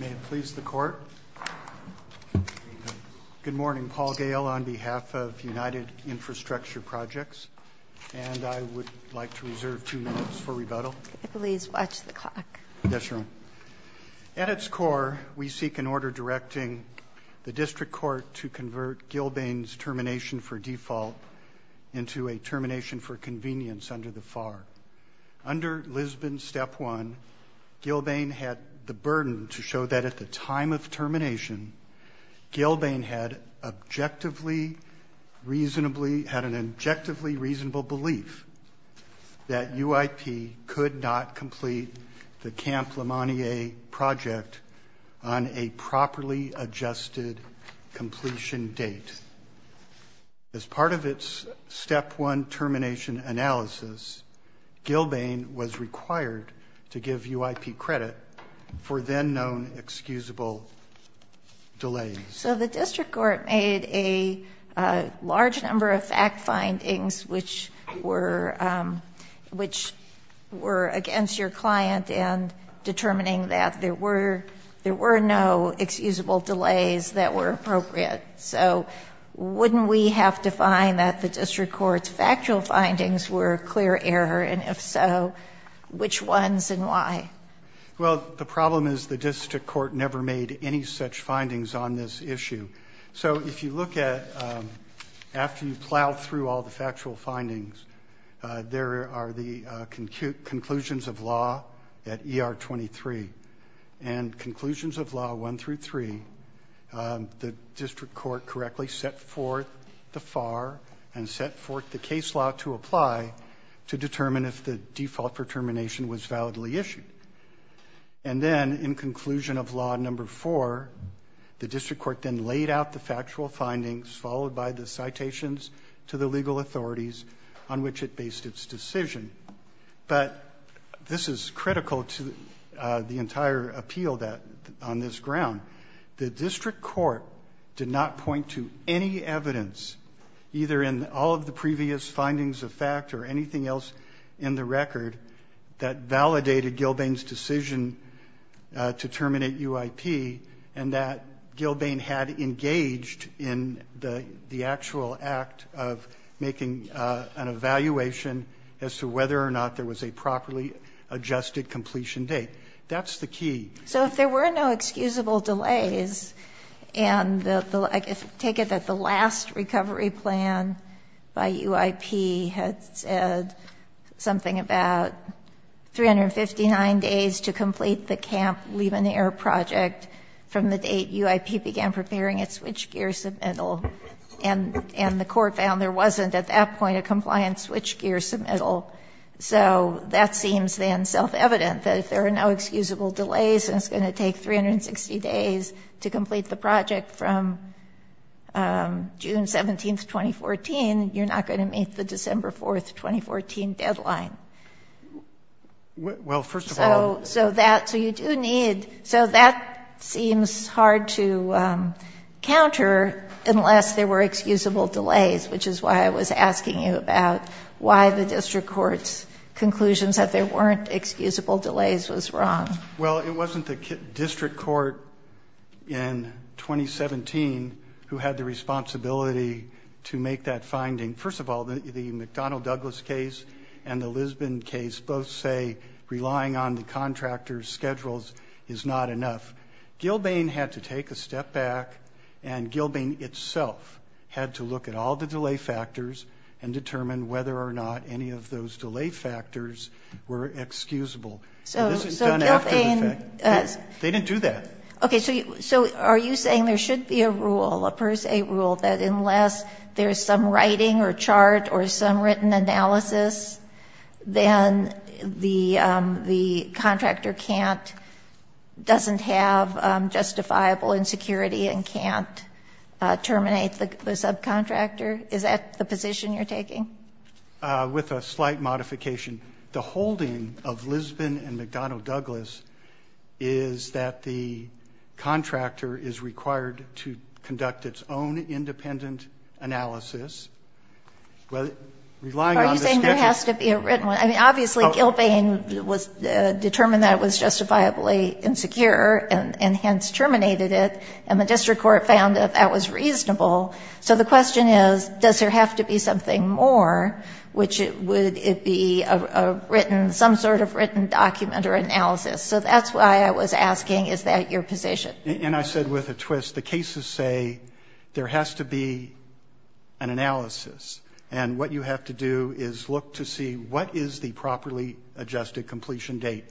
May it please the Court, Good morning, Paul Gale on behalf of United Infrastructure Projects and I would like to reserve two minutes for rebuttal. Please watch the clock. At its core, we seek an order directing the District Court to convert Gilbane's termination for default into a termination for convenience under the FAR. Under Lisbon Step 1, Gilbane had the burden to show that at the time of termination, Gilbane had an objectively reasonable belief that UIP could not complete the Camp Lemanier project on a properly adjusted completion date. As part of its Step 1 termination analysis, Gilbane was required to give UIP credit for then known excusable delays. So the District Court made a large number of fact findings which were against your client and determining that there were no excusable delays that were appropriate. So wouldn't we have to find that the District Court's factual findings were a clear error and if so, which ones and why? Well, the problem is the District Court never made any such findings on this issue. So if you look at, after you plow through all the factual findings, there are the conclusions of law at ER 23. And conclusions of law 1 through 3, the District Court correctly set forth the FAR and set forth the case law to apply to determine if the default for termination was validly issued. And then in conclusion of law number 4, the District Court then laid out the factual findings followed by the citations to the legal authorities on which it based its decision. But this is critical to the entire appeal on this ground. The District Court did not point to any evidence, either in all of the previous findings of fact or anything else in the record, that validated Gilbane's decision to terminate UIP and that Gilbane had engaged in the actual act of making an evaluation as to whether or not there was a properly adjusted completion date. That's the key. So if there were no excusable delays and the last recovery plan by UIP had said something about 359 days to complete the Camp Leibniz Air Project from the date UIP began preparing its switchgear submittal and the court found there wasn't at that point a compliant switchgear submittal, so that seems then self-evident, that if there are no excusable delays and it's going to take 360 days to complete the project from June 17, 2014, you're not going to meet the December 4, 2014 deadline. So that seems hard to counter unless there were excusable delays, which is why I was asking you about why the District Court's conclusions that there weren't excusable delays was wrong. Well, it wasn't the District Court in 2017 who had the responsibility to make that finding. First of all, the McDonnell Douglas case and the Lisbon case both say relying on the contractor's schedules is not enough. Gilbane had to take a step back and Gilbane itself had to look at all the delay factors and determine whether or not any of those delay factors were excusable. So this is done after the fact. They didn't do that. Okay, so are you saying there should be a rule, a per se rule, that unless there's some writing or chart or some written analysis, then the contractor can't, doesn't have justifiable insecurity and can't terminate the subcontractor? Is that the position you're taking? With a slight modification. The holding of Lisbon and McDonnell Douglas is that the contractor is required to conduct its own independent analysis, relying on the schedule. Are you saying there has to be a written one? I mean, obviously Gilbane determined that it was justifiably insecure and hence terminated it, and the district court found that that was reasonable. So the question is, does there have to be something more, which would it be a written some sort of written document or analysis? So that's why I was asking, is that your position? And I said with a twist, the cases say there has to be an analysis. And what you have to do is look to see what is the properly adjusted completion date.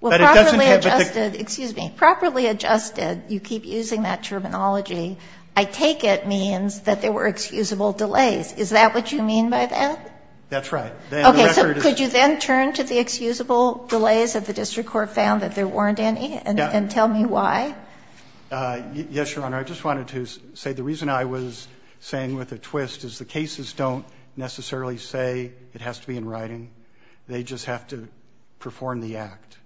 But it doesn't have the the excuse me, properly adjusted, you keep using that terminology, I take it means that there were excusable delays. Is that what you mean by that? That's right. Okay. So could you then turn to the excusable delays that the district court found that there weren't any and tell me why? Yes, Your Honor. I just wanted to say the reason I was saying with a twist is the cases don't necessarily say it has to be in writing. They just have to perform the act.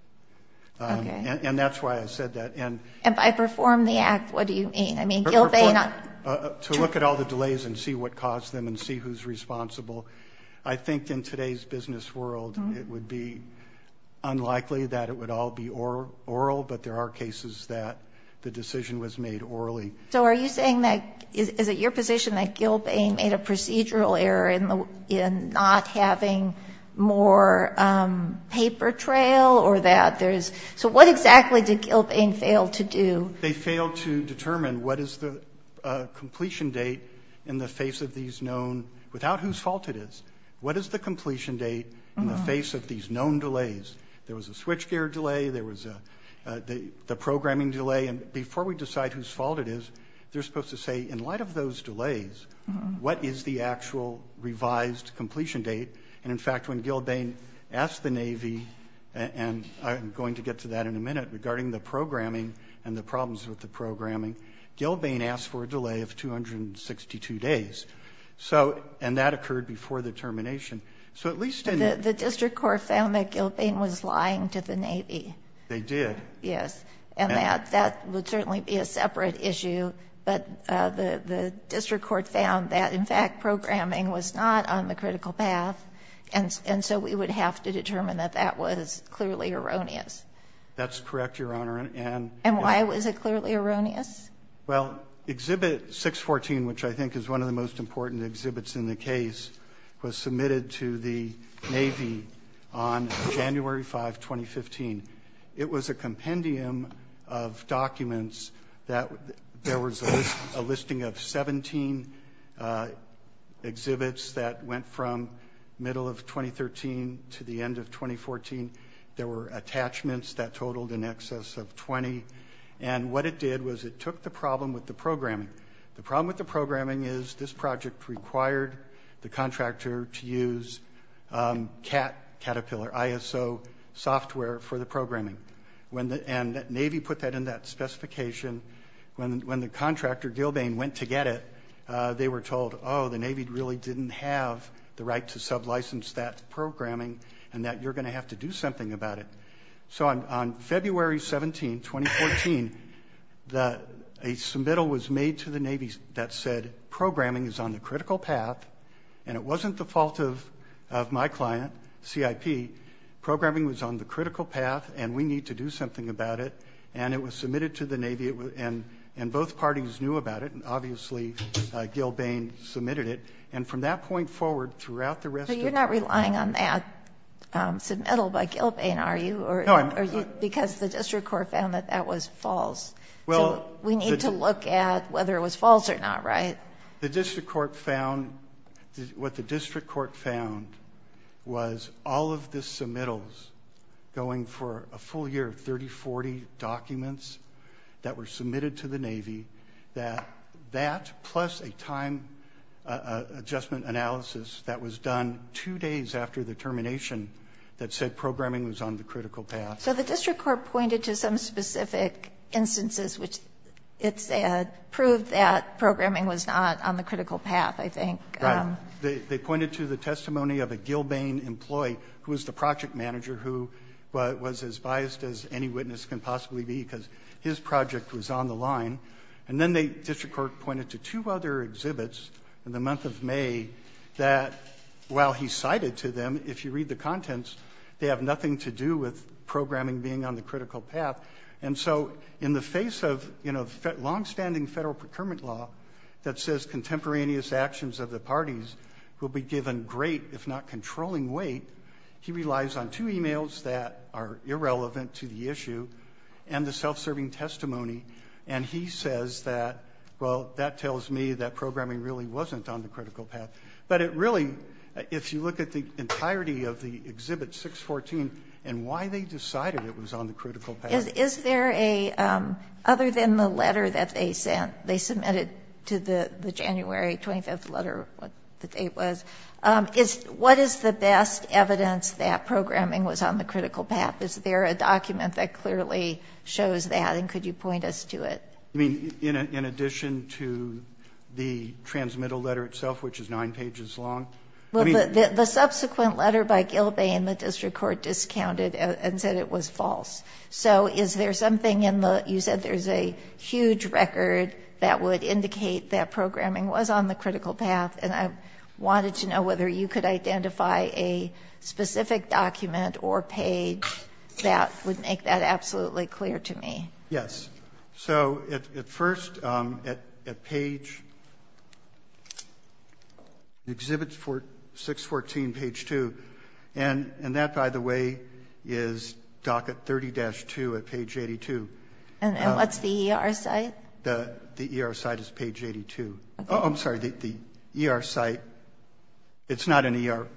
And that's why I said that. And if I perform the act, what do you mean? I mean, to look at all the delays and see what caused them and see who's responsible. I think in today's business world, it would be unlikely that it would all be oral, but there are cases that the decision was made orally. So are you saying that is it your position that Gilbane made a procedural error in not having more paper trail or that there's... So what exactly did Gilbane fail to do? They failed to determine what is the completion date in the face of these known, without whose fault it is, what is the completion date in the face of these known delays. There was a switchgear delay. There was the programming delay. And before we decide whose fault it is, they're supposed to say, in light of those delays, what is the actual revised completion date? And in fact, when Gilbane asked the Navy, and I'm going to get to that in a minute, regarding the programming and the problems with the programming, Gilbane asked for a delay of 262 days. So, and that occurred before the termination. So at least in... The district court found that Gilbane was lying to the Navy. They did. Yes. And that would certainly be a separate issue. But the district court found that, in fact, programming was not on the critical path. And so we would have to determine that that was clearly erroneous. That's correct, Your Honor, and... And why was it clearly erroneous? Well, Exhibit 614, which I think is one of the most important exhibits in the case, was submitted to the Navy on January 5, 2015. It was a compendium of documents that... There was a listing of 17 exhibits that went from middle of 2013 to the end of 2014. There were attachments that totaled in excess of 20. And what it did was it took the problem with the programming. The problem with the programming is this project required the contractor to use CAT, Caterpillar, ISO software for the programming. And the Navy put that in that specification. When the contractor, Gilbane, went to get it, they were told, oh, the Navy really didn't have the right to sublicense that programming and that you're going to have to do something about it. So on February 17, 2014, a submittal was made to the Navy that said, programming is on the critical path, and it wasn't the fault of my client, CIP. Programming was on the critical path, and we need to do something about it. And it was submitted to the Navy. And both parties knew about it, and obviously, Gilbane submitted it. And from that point forward, throughout the rest of... But you're not relying on that submittal by Gilbane, are you? No, I'm not. Because the District Court found that that was false. Well... We need to look at whether it was false or not, right? The District Court found... What the District Court found was all of the submittals going for a full year of 30, 40 documents that were submitted to the Navy, that that plus a time adjustment analysis that was done two days after the termination that said programming was on the critical path. So the District Court pointed to some specific instances which it said proved that programming was not on the critical path, I think. Right. They pointed to the testimony of a Gilbane employee who was the project manager, who was as biased as any witness can possibly be because his project was on the line. And then the District Court pointed to two other exhibits in the month of May that, while he cited to them, if you read the contents, they have nothing to do with programming being on the critical path. And so, in the face of, you know, long-standing federal procurement law that says contemporaneous actions of the parties will be given great, if not controlling weight, he relies on two emails that are irrelevant to the issue and the self-serving testimony. And he says that, well, that tells me that programming really wasn't on the critical path. But it really, if you look at the entirety of the exhibit 614 and why they decided it was on the critical path. Is there a, other than the letter that they sent, they submitted to the January 25th letter, what the date was, is, what is the best evidence that programming was on the critical path? Is there a document that clearly shows that? And could you point us to it? I mean, in addition to the transmittal letter itself, which is nine pages long. Well, the subsequent letter by Gilbane, the district court discounted and said it was false. So, is there something in the, you said there's a huge record that would indicate that programming was on the critical path. And I wanted to know whether you could identify a specific document or page that would make that absolutely clear to me. Yes. So, at first, at page, Exhibit 614, page two. And that, by the way, is docket 30-2 at page 82. And what's the ER site? The ER site is page 82. I'm sorry, the ER site, it's not an ER.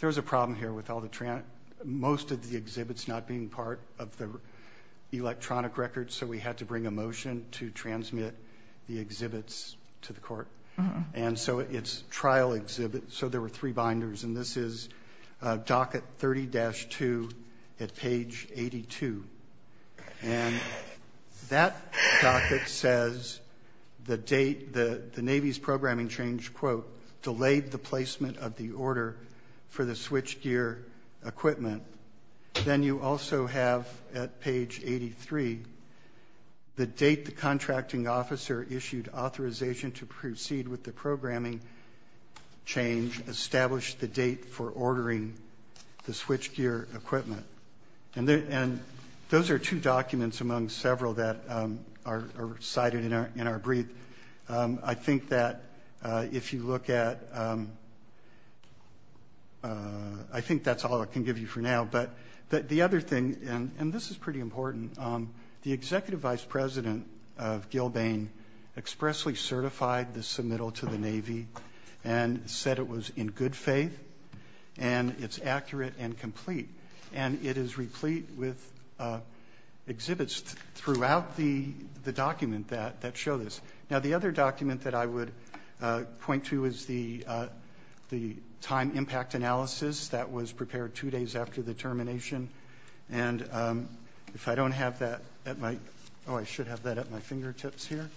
There's a problem here with all the, most of the exhibits not being part of the electronic records, so we had to bring a motion to transmit the exhibits to the court. And so, it's trial exhibit, so there were three binders. And this is docket 30-2 at page 82. And that docket says the date, the Navy's programming change, quote, delayed the placement of the order for the switch gear equipment. Then you also have, at page 83, the date the contracting officer issued authorization to proceed with the programming change, established the date for ordering the switch gear equipment. And those are two documents among several that are cited in our brief. I think that if you look at, I think that's all I can give you for now. But the other thing, and this is pretty important, the Executive Vice President of Gilbane expressly certified the submittal to the Navy and said it was in good faith, and it's accurate and complete. And it is replete with exhibits throughout the document that show this. Now, the other document that I would point to is the time impact analysis that was prepared two days after the termination. And if I don't have that at my, I should have that at my fingertips here.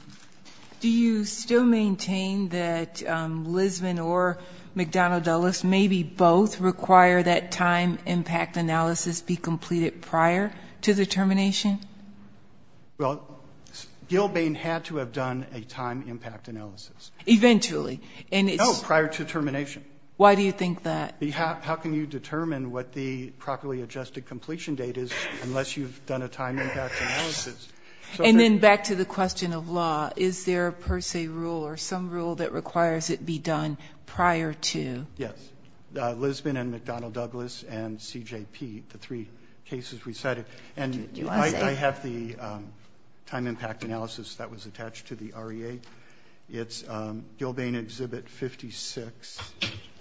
Do you still maintain that Lisbon or McDonnell-Dulles maybe both require that time impact analysis be completed prior to the termination? Well, Gilbane had to have done a time impact analysis. Eventually. No, prior to termination. Why do you think that? How can you determine what the properly adjusted completion date is unless you've done a time impact analysis? And then back to the question of law, is there a per se rule or some rule that requires it be done prior to? Yes. And I have the time impact analysis that was attached to the REA. It's Gilbane Exhibit 56.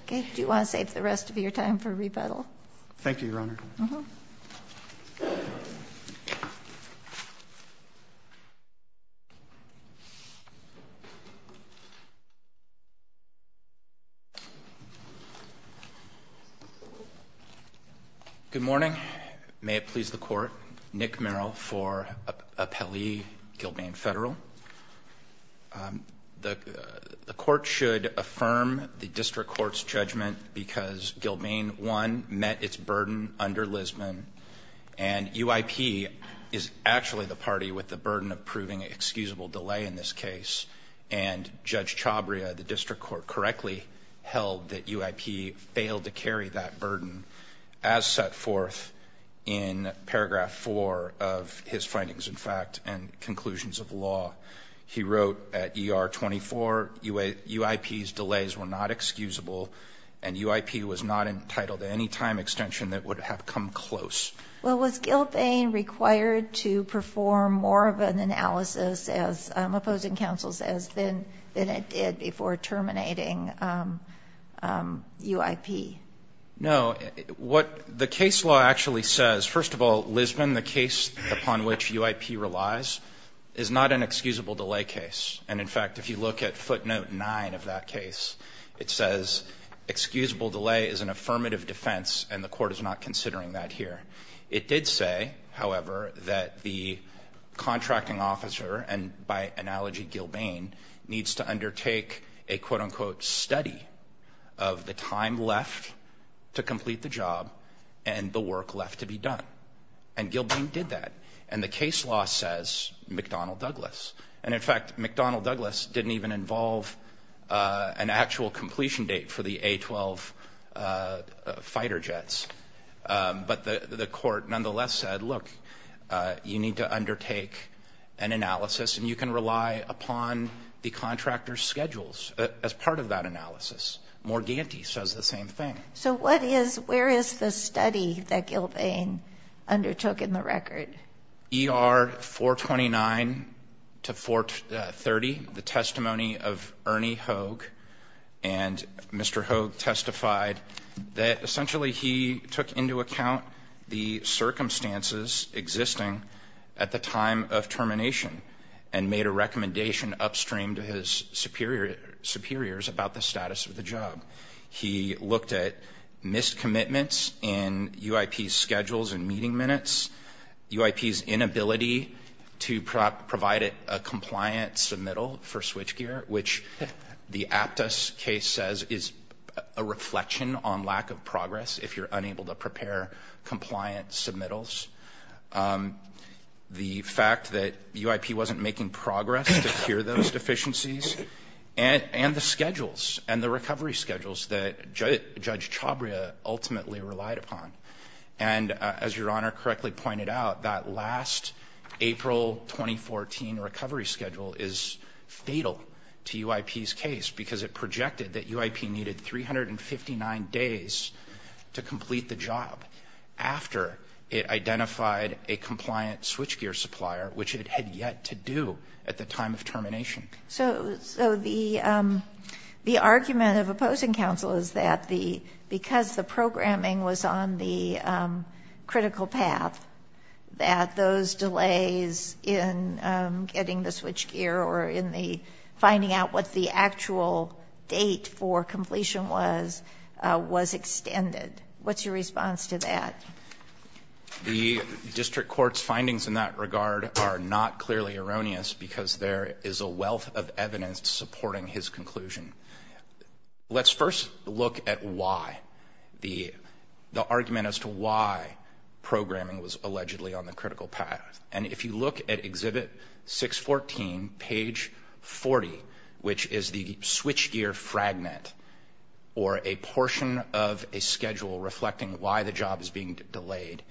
Okay. Do you want to save the rest of your time for rebuttal? Thank you, Your Honor. Good morning. May it please the court. Nick Merrill for Appellee Gilbane Federal. The court should affirm the district court's judgment because Gilbane one met its burden under Lisbon and UIP is actually the party with the burden of proving excusable delay in this case. And Judge Chabria, the district court correctly held that UIP failed to carry that burden as set forth in paragraph four of his findings, in fact, and conclusions of law. He wrote at ER 24, UIP's delays were not excusable and UIP was not entitled to any time extension that would have come close. Well, was Gilbane required to perform more of an analysis as opposing counsel says than it did before terminating UIP? No. What the case law actually says, first of all, Lisbon, the case upon which UIP relies, is not an excusable delay case. And in fact, if you look at footnote nine of that case, it says, excusable delay is an affirmative defense and the court is not considering that here. It did say, however, that the contracting officer, and by analogy, Gilbane, needs to undertake a quote unquote study of the time left to complete the job and the work left to be done. And Gilbane did that. And the case law says McDonnell Douglas. And in fact, McDonnell Douglas didn't even involve an actual completion date for the A-12 fighter jets. But the court, nonetheless, said, look, you need to undertake an analysis and you can rely upon the contractor's schedules as part of that analysis. Morganti says the same thing. So where is the study that Gilbane undertook in the record? ER 429 to 430, the testimony of Ernie Hogue. And Mr. Hogue testified that essentially he took into account the circumstances existing at the time of termination and made a recommendation upstream to his superiors about the status of the job. He looked at missed commitments in UIP schedules and meeting minutes, UIP's inability to provide a compliant submittal for switchgear, which the Aptos case says is a reflection on lack of progress if you're unable to prepare compliant submittals. The fact that UIP wasn't making progress to cure those deficiencies and the schedules and the recovery schedules that Judge Chabria ultimately relied upon. And as Your Honor correctly pointed out, that last April 2014 recovery schedule is fatal to UIP's case because it projected that UIP needed 359 days to complete the job after it identified a compliant switchgear supplier, which it had yet to do at the time of termination. So the argument of opposing counsel is that because the programming was on the critical path, that those delays in getting the switchgear or in the finding out what the actual date for completion was, was extended. What's your response to that? The district court's findings in that regard are not clearly erroneous because there is a wealth of evidence supporting his conclusion. Let's first look at why the argument as to why programming was allegedly on the critical path. And if you look at Exhibit 614, page 40, which is the switchgear fragment or a portion of a schedule reflecting why the job is being delayed,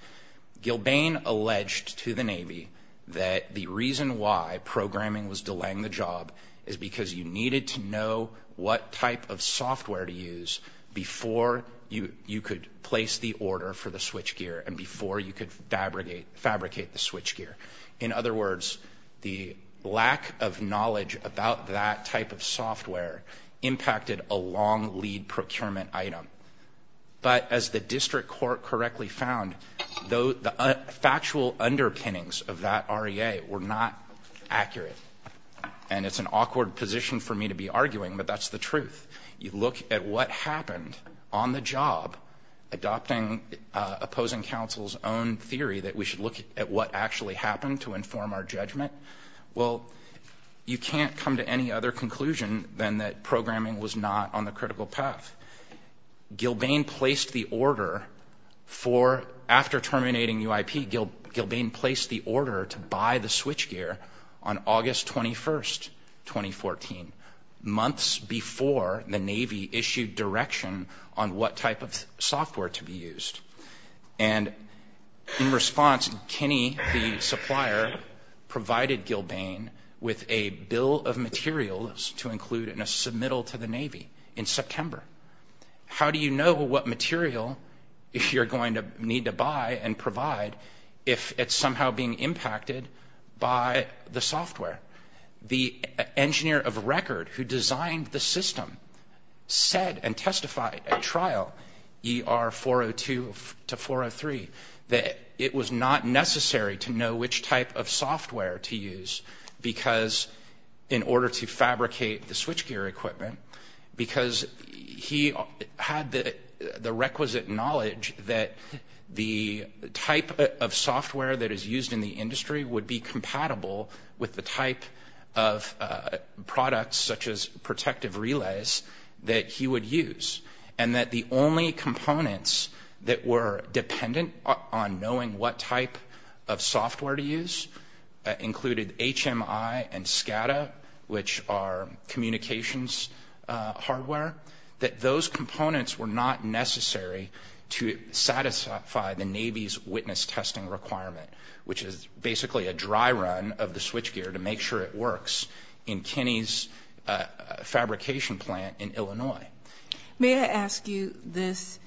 Gilbane alleged to the Navy that the reason why programming was delaying the job is because you needed to know what type of software to use before you could place the switchgear and before you could fabricate the switchgear. In other words, the lack of knowledge about that type of software impacted a long lead procurement item. But as the district court correctly found, the factual underpinnings of that REA were not accurate. And it's an awkward position for me to be arguing, but that's the truth. You look at what happened on the job adopting opposing counsel's own theory that we should look at what actually happened to inform our judgment. Well, you can't come to any other conclusion than that programming was not on the critical path. Gilbane placed the order for, after terminating UIP, Gilbane placed the order to buy the switchgear on August 21st, 2014, months before the Navy issued direction on what type of software to be used. And in response, Kenny, the supplier, provided Gilbane with a bill of materials to include in a submittal to the Navy in September. How do you know what material if you're going to need to buy and provide if it's somehow being impacted by the software? The engineer of record who designed the system said and testified at trial ER 402 to 403 that it was not necessary to know which type of software to use because in order to fabricate the requisite knowledge that the type of software that is used in the industry would be compatible with the type of products such as protective relays that he would use and that the only components that were dependent on knowing what type of software to use included HMI and SCADA, which are communications hardware, that those components were not necessary to satisfy the Navy's witness testing requirement, which is basically a dry run of the switchgear to make sure it works in Kenny's fabrication plant in Illinois. May I ask you this,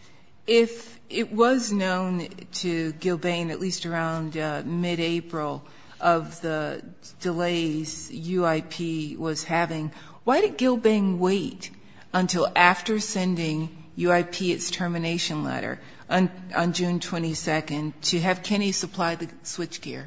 if it was known to Gilbane at least around mid-April of the delays UIP was having, why did Gilbane wait until after sending UIP its termination letter on June 22nd to have Kenny supply the switchgear?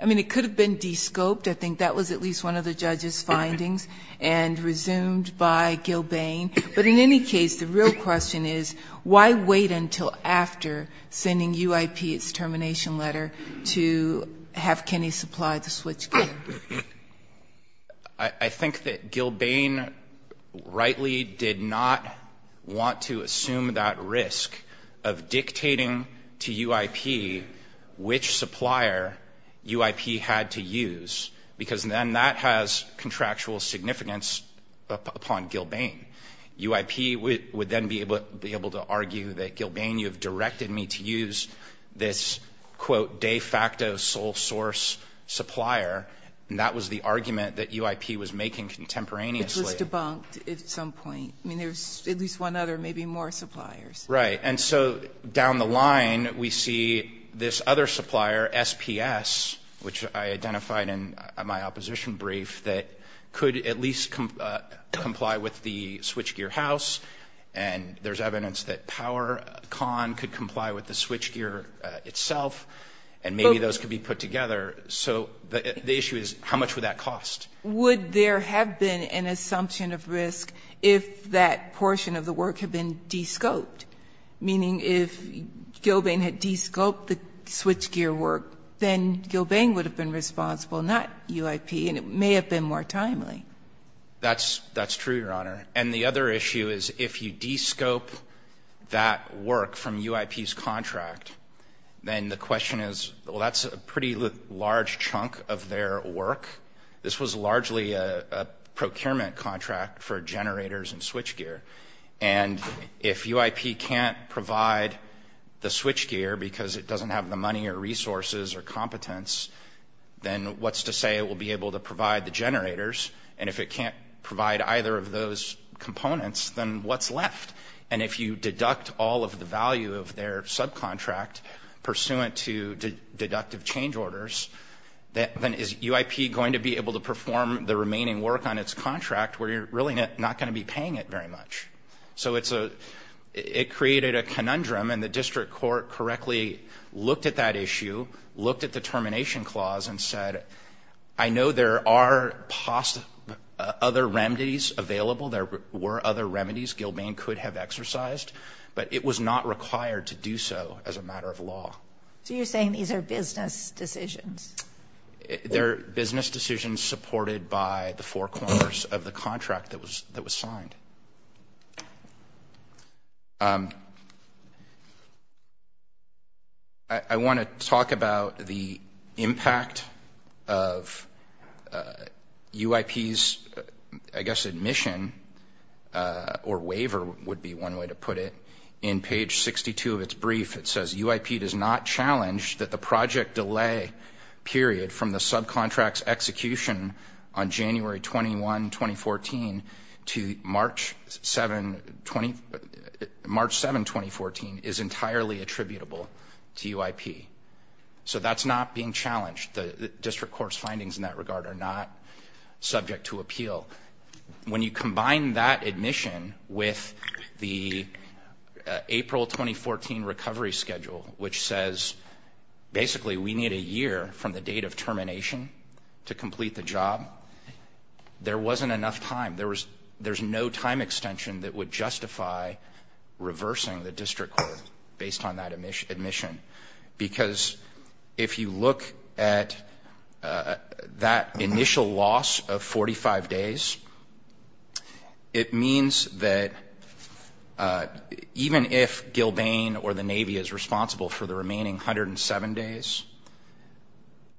I mean, it could have been descoped. I think that was at least one of the judge's findings and resumed by Gilbane. But in any case, the real question is why wait until after sending UIP its termination letter to have Kenny supply the switchgear? I think that Gilbane rightly did not want to assume that risk of dictating to UIP which supplier UIP had to use, because then that has contractual significance upon Gilbane. UIP would then be able to argue that Gilbane, you have directed me to use this, quote, de facto sole source supplier, and that was the argument that UIP was making contemporaneously. Which was debunked at some point. I mean, there's at least one other, maybe more suppliers. Right. And so down the line we see this other supplier, SPS, which I identified in my opposition brief, that could at least comply with the switchgear house, and there's evidence that PowerCon could comply with the switchgear itself, and maybe those could be put together. So the issue is how much would that cost? Would there have been an assumption of risk if that portion of the work had been de-scoped? Meaning if Gilbane had de-scoped the switchgear work, then Gilbane would have been responsible, not UIP, and it may have been more timely. That's true, Your Honor. And the other issue is if you de-scope that work from UIP's contract, then the question is, well, that's a pretty large chunk of their work. This was largely a switchgear. And if UIP can't provide the switchgear because it doesn't have the money or resources or competence, then what's to say it will be able to provide the generators? And if it can't provide either of those components, then what's left? And if you deduct all of the value of their subcontract pursuant to deductive change orders, then is UIP going to be able to perform the remaining work on its contract where you're really not going to be paying it very much? So it's a, it created a conundrum and the district court correctly looked at that issue, looked at the termination clause and said, I know there are other remedies available, there were other remedies Gilbane could have exercised, but it was not required to do so as a matter of law. So you're saying these are business decisions? They're business decisions supported by the four corners of the contract that was signed. I want to talk about the impact of UIP's, I guess, admission or waiver would be one way to put it. In page 62 of its brief, it says UIP does not challenge that the project delay period from the subcontracts execution on January 21, 2014 to March 7, 2014 is entirely attributable to UIP. So that's not being challenged. The district court's findings in that regard are not April 2014 recovery schedule, which says basically we need a year from the date of termination to complete the job. There wasn't enough time. There was, there's no time extension that would justify reversing the district court based on that admission. Because if you look at that initial loss of 45 days, it means that even if Gilbane or the Navy is responsible for the remaining 107 days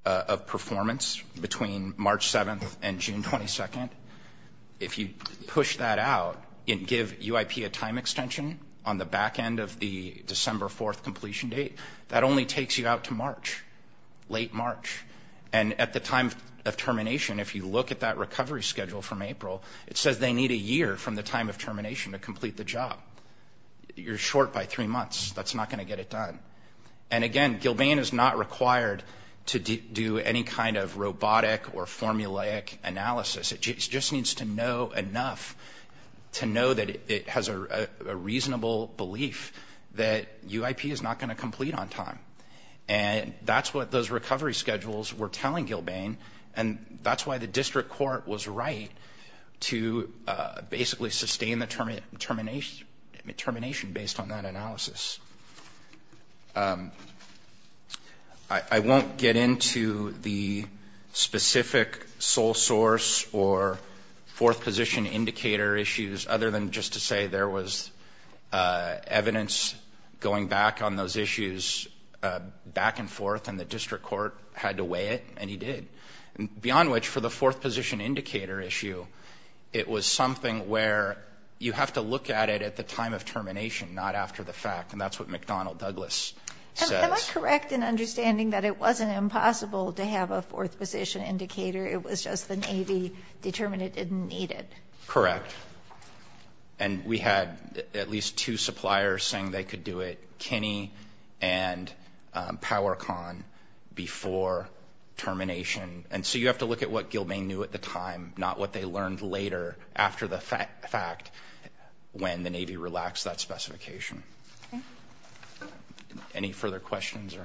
of performance between March 7th and June 22nd, if you push that out and give UIP a time extension on the back end of the December 4th completion date, that only takes you out to March, late March. And at the time of termination, if you look at that recovery schedule from April, it says they need a year from the time of termination to complete the job. You're short by three months. That's not going to get it done. And again, Gilbane is not required to do any kind of robotic or formulaic analysis. It just needs to know enough to know that it has a And that's what those recovery schedules were telling Gilbane. And that's why the district court was right to basically sustain the termination based on that analysis. I won't get into the specific sole source or fourth position indicator issues other than to say there was evidence going back on those issues back and forth, and the district court had to weigh it, and he did. Beyond which, for the fourth position indicator issue, it was something where you have to look at it at the time of termination, not after the fact. And that's what McDonnell Douglas says. Am I correct in understanding that it wasn't impossible to have a fourth position indicator? It was just the Navy determined it didn't need it? Correct. And we had at least two suppliers saying they could do it, Kinney and PowerCon, before termination. And so you have to look at what Gilbane knew at the time, not what they learned later after the fact when the Navy relaxed that specification. Any further questions?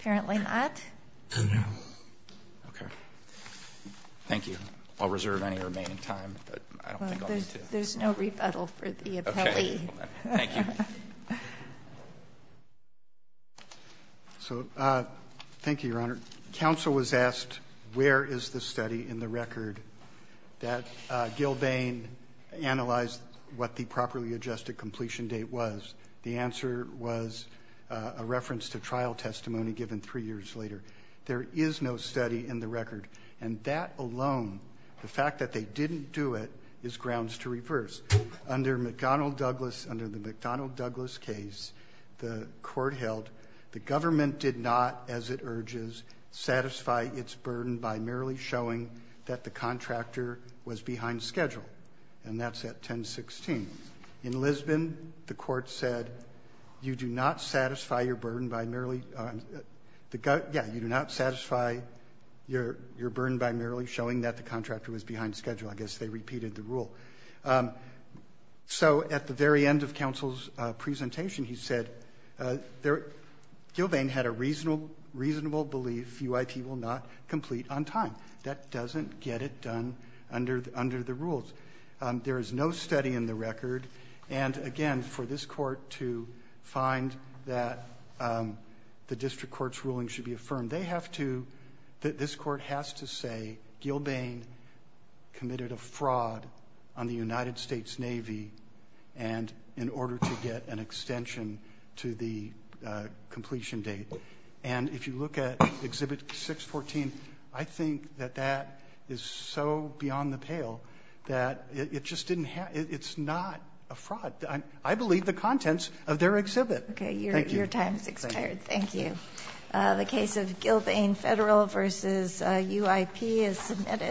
Apparently not. No. Okay. Thank you. I'll reserve any remaining time, but I don't think I'll need to. There's no rebuttal for the appellee. Okay. Thank you. So, thank you, Your Honor. Counsel was asked where is the study in the record that Gilbane analyzed what the properly adjusted completion date was. The answer was a reference to trial testimony given three years later. There is no study in the record. And that alone, the fact that they didn't do it, is grounds to reverse. Under the McDonnell Douglas case, the court held the government did not, as it urges, satisfy its burden by merely showing that the contractor was behind schedule. And that's at 10-16. In Lisbon, the court said, you do not satisfy your burden by merely showing that the contractor was behind schedule. I guess they repeated the rule. So, at the very end of counsel's presentation, he said, Gilbane had a reasonable belief UIP will not complete on time. That doesn't get it done under the rules. There is no study in the record. And again, for this court to find that the district court's ruling should be affirmed, they have to, this court has to say Gilbane committed a fraud on the United States Navy and in order to get an extension to the pail, that it just didn't, it's not a fraud. I believe the contents of their exhibit. Okay, your time has expired. Thank you. The case of Gilbane Federal versus UIP is submitted.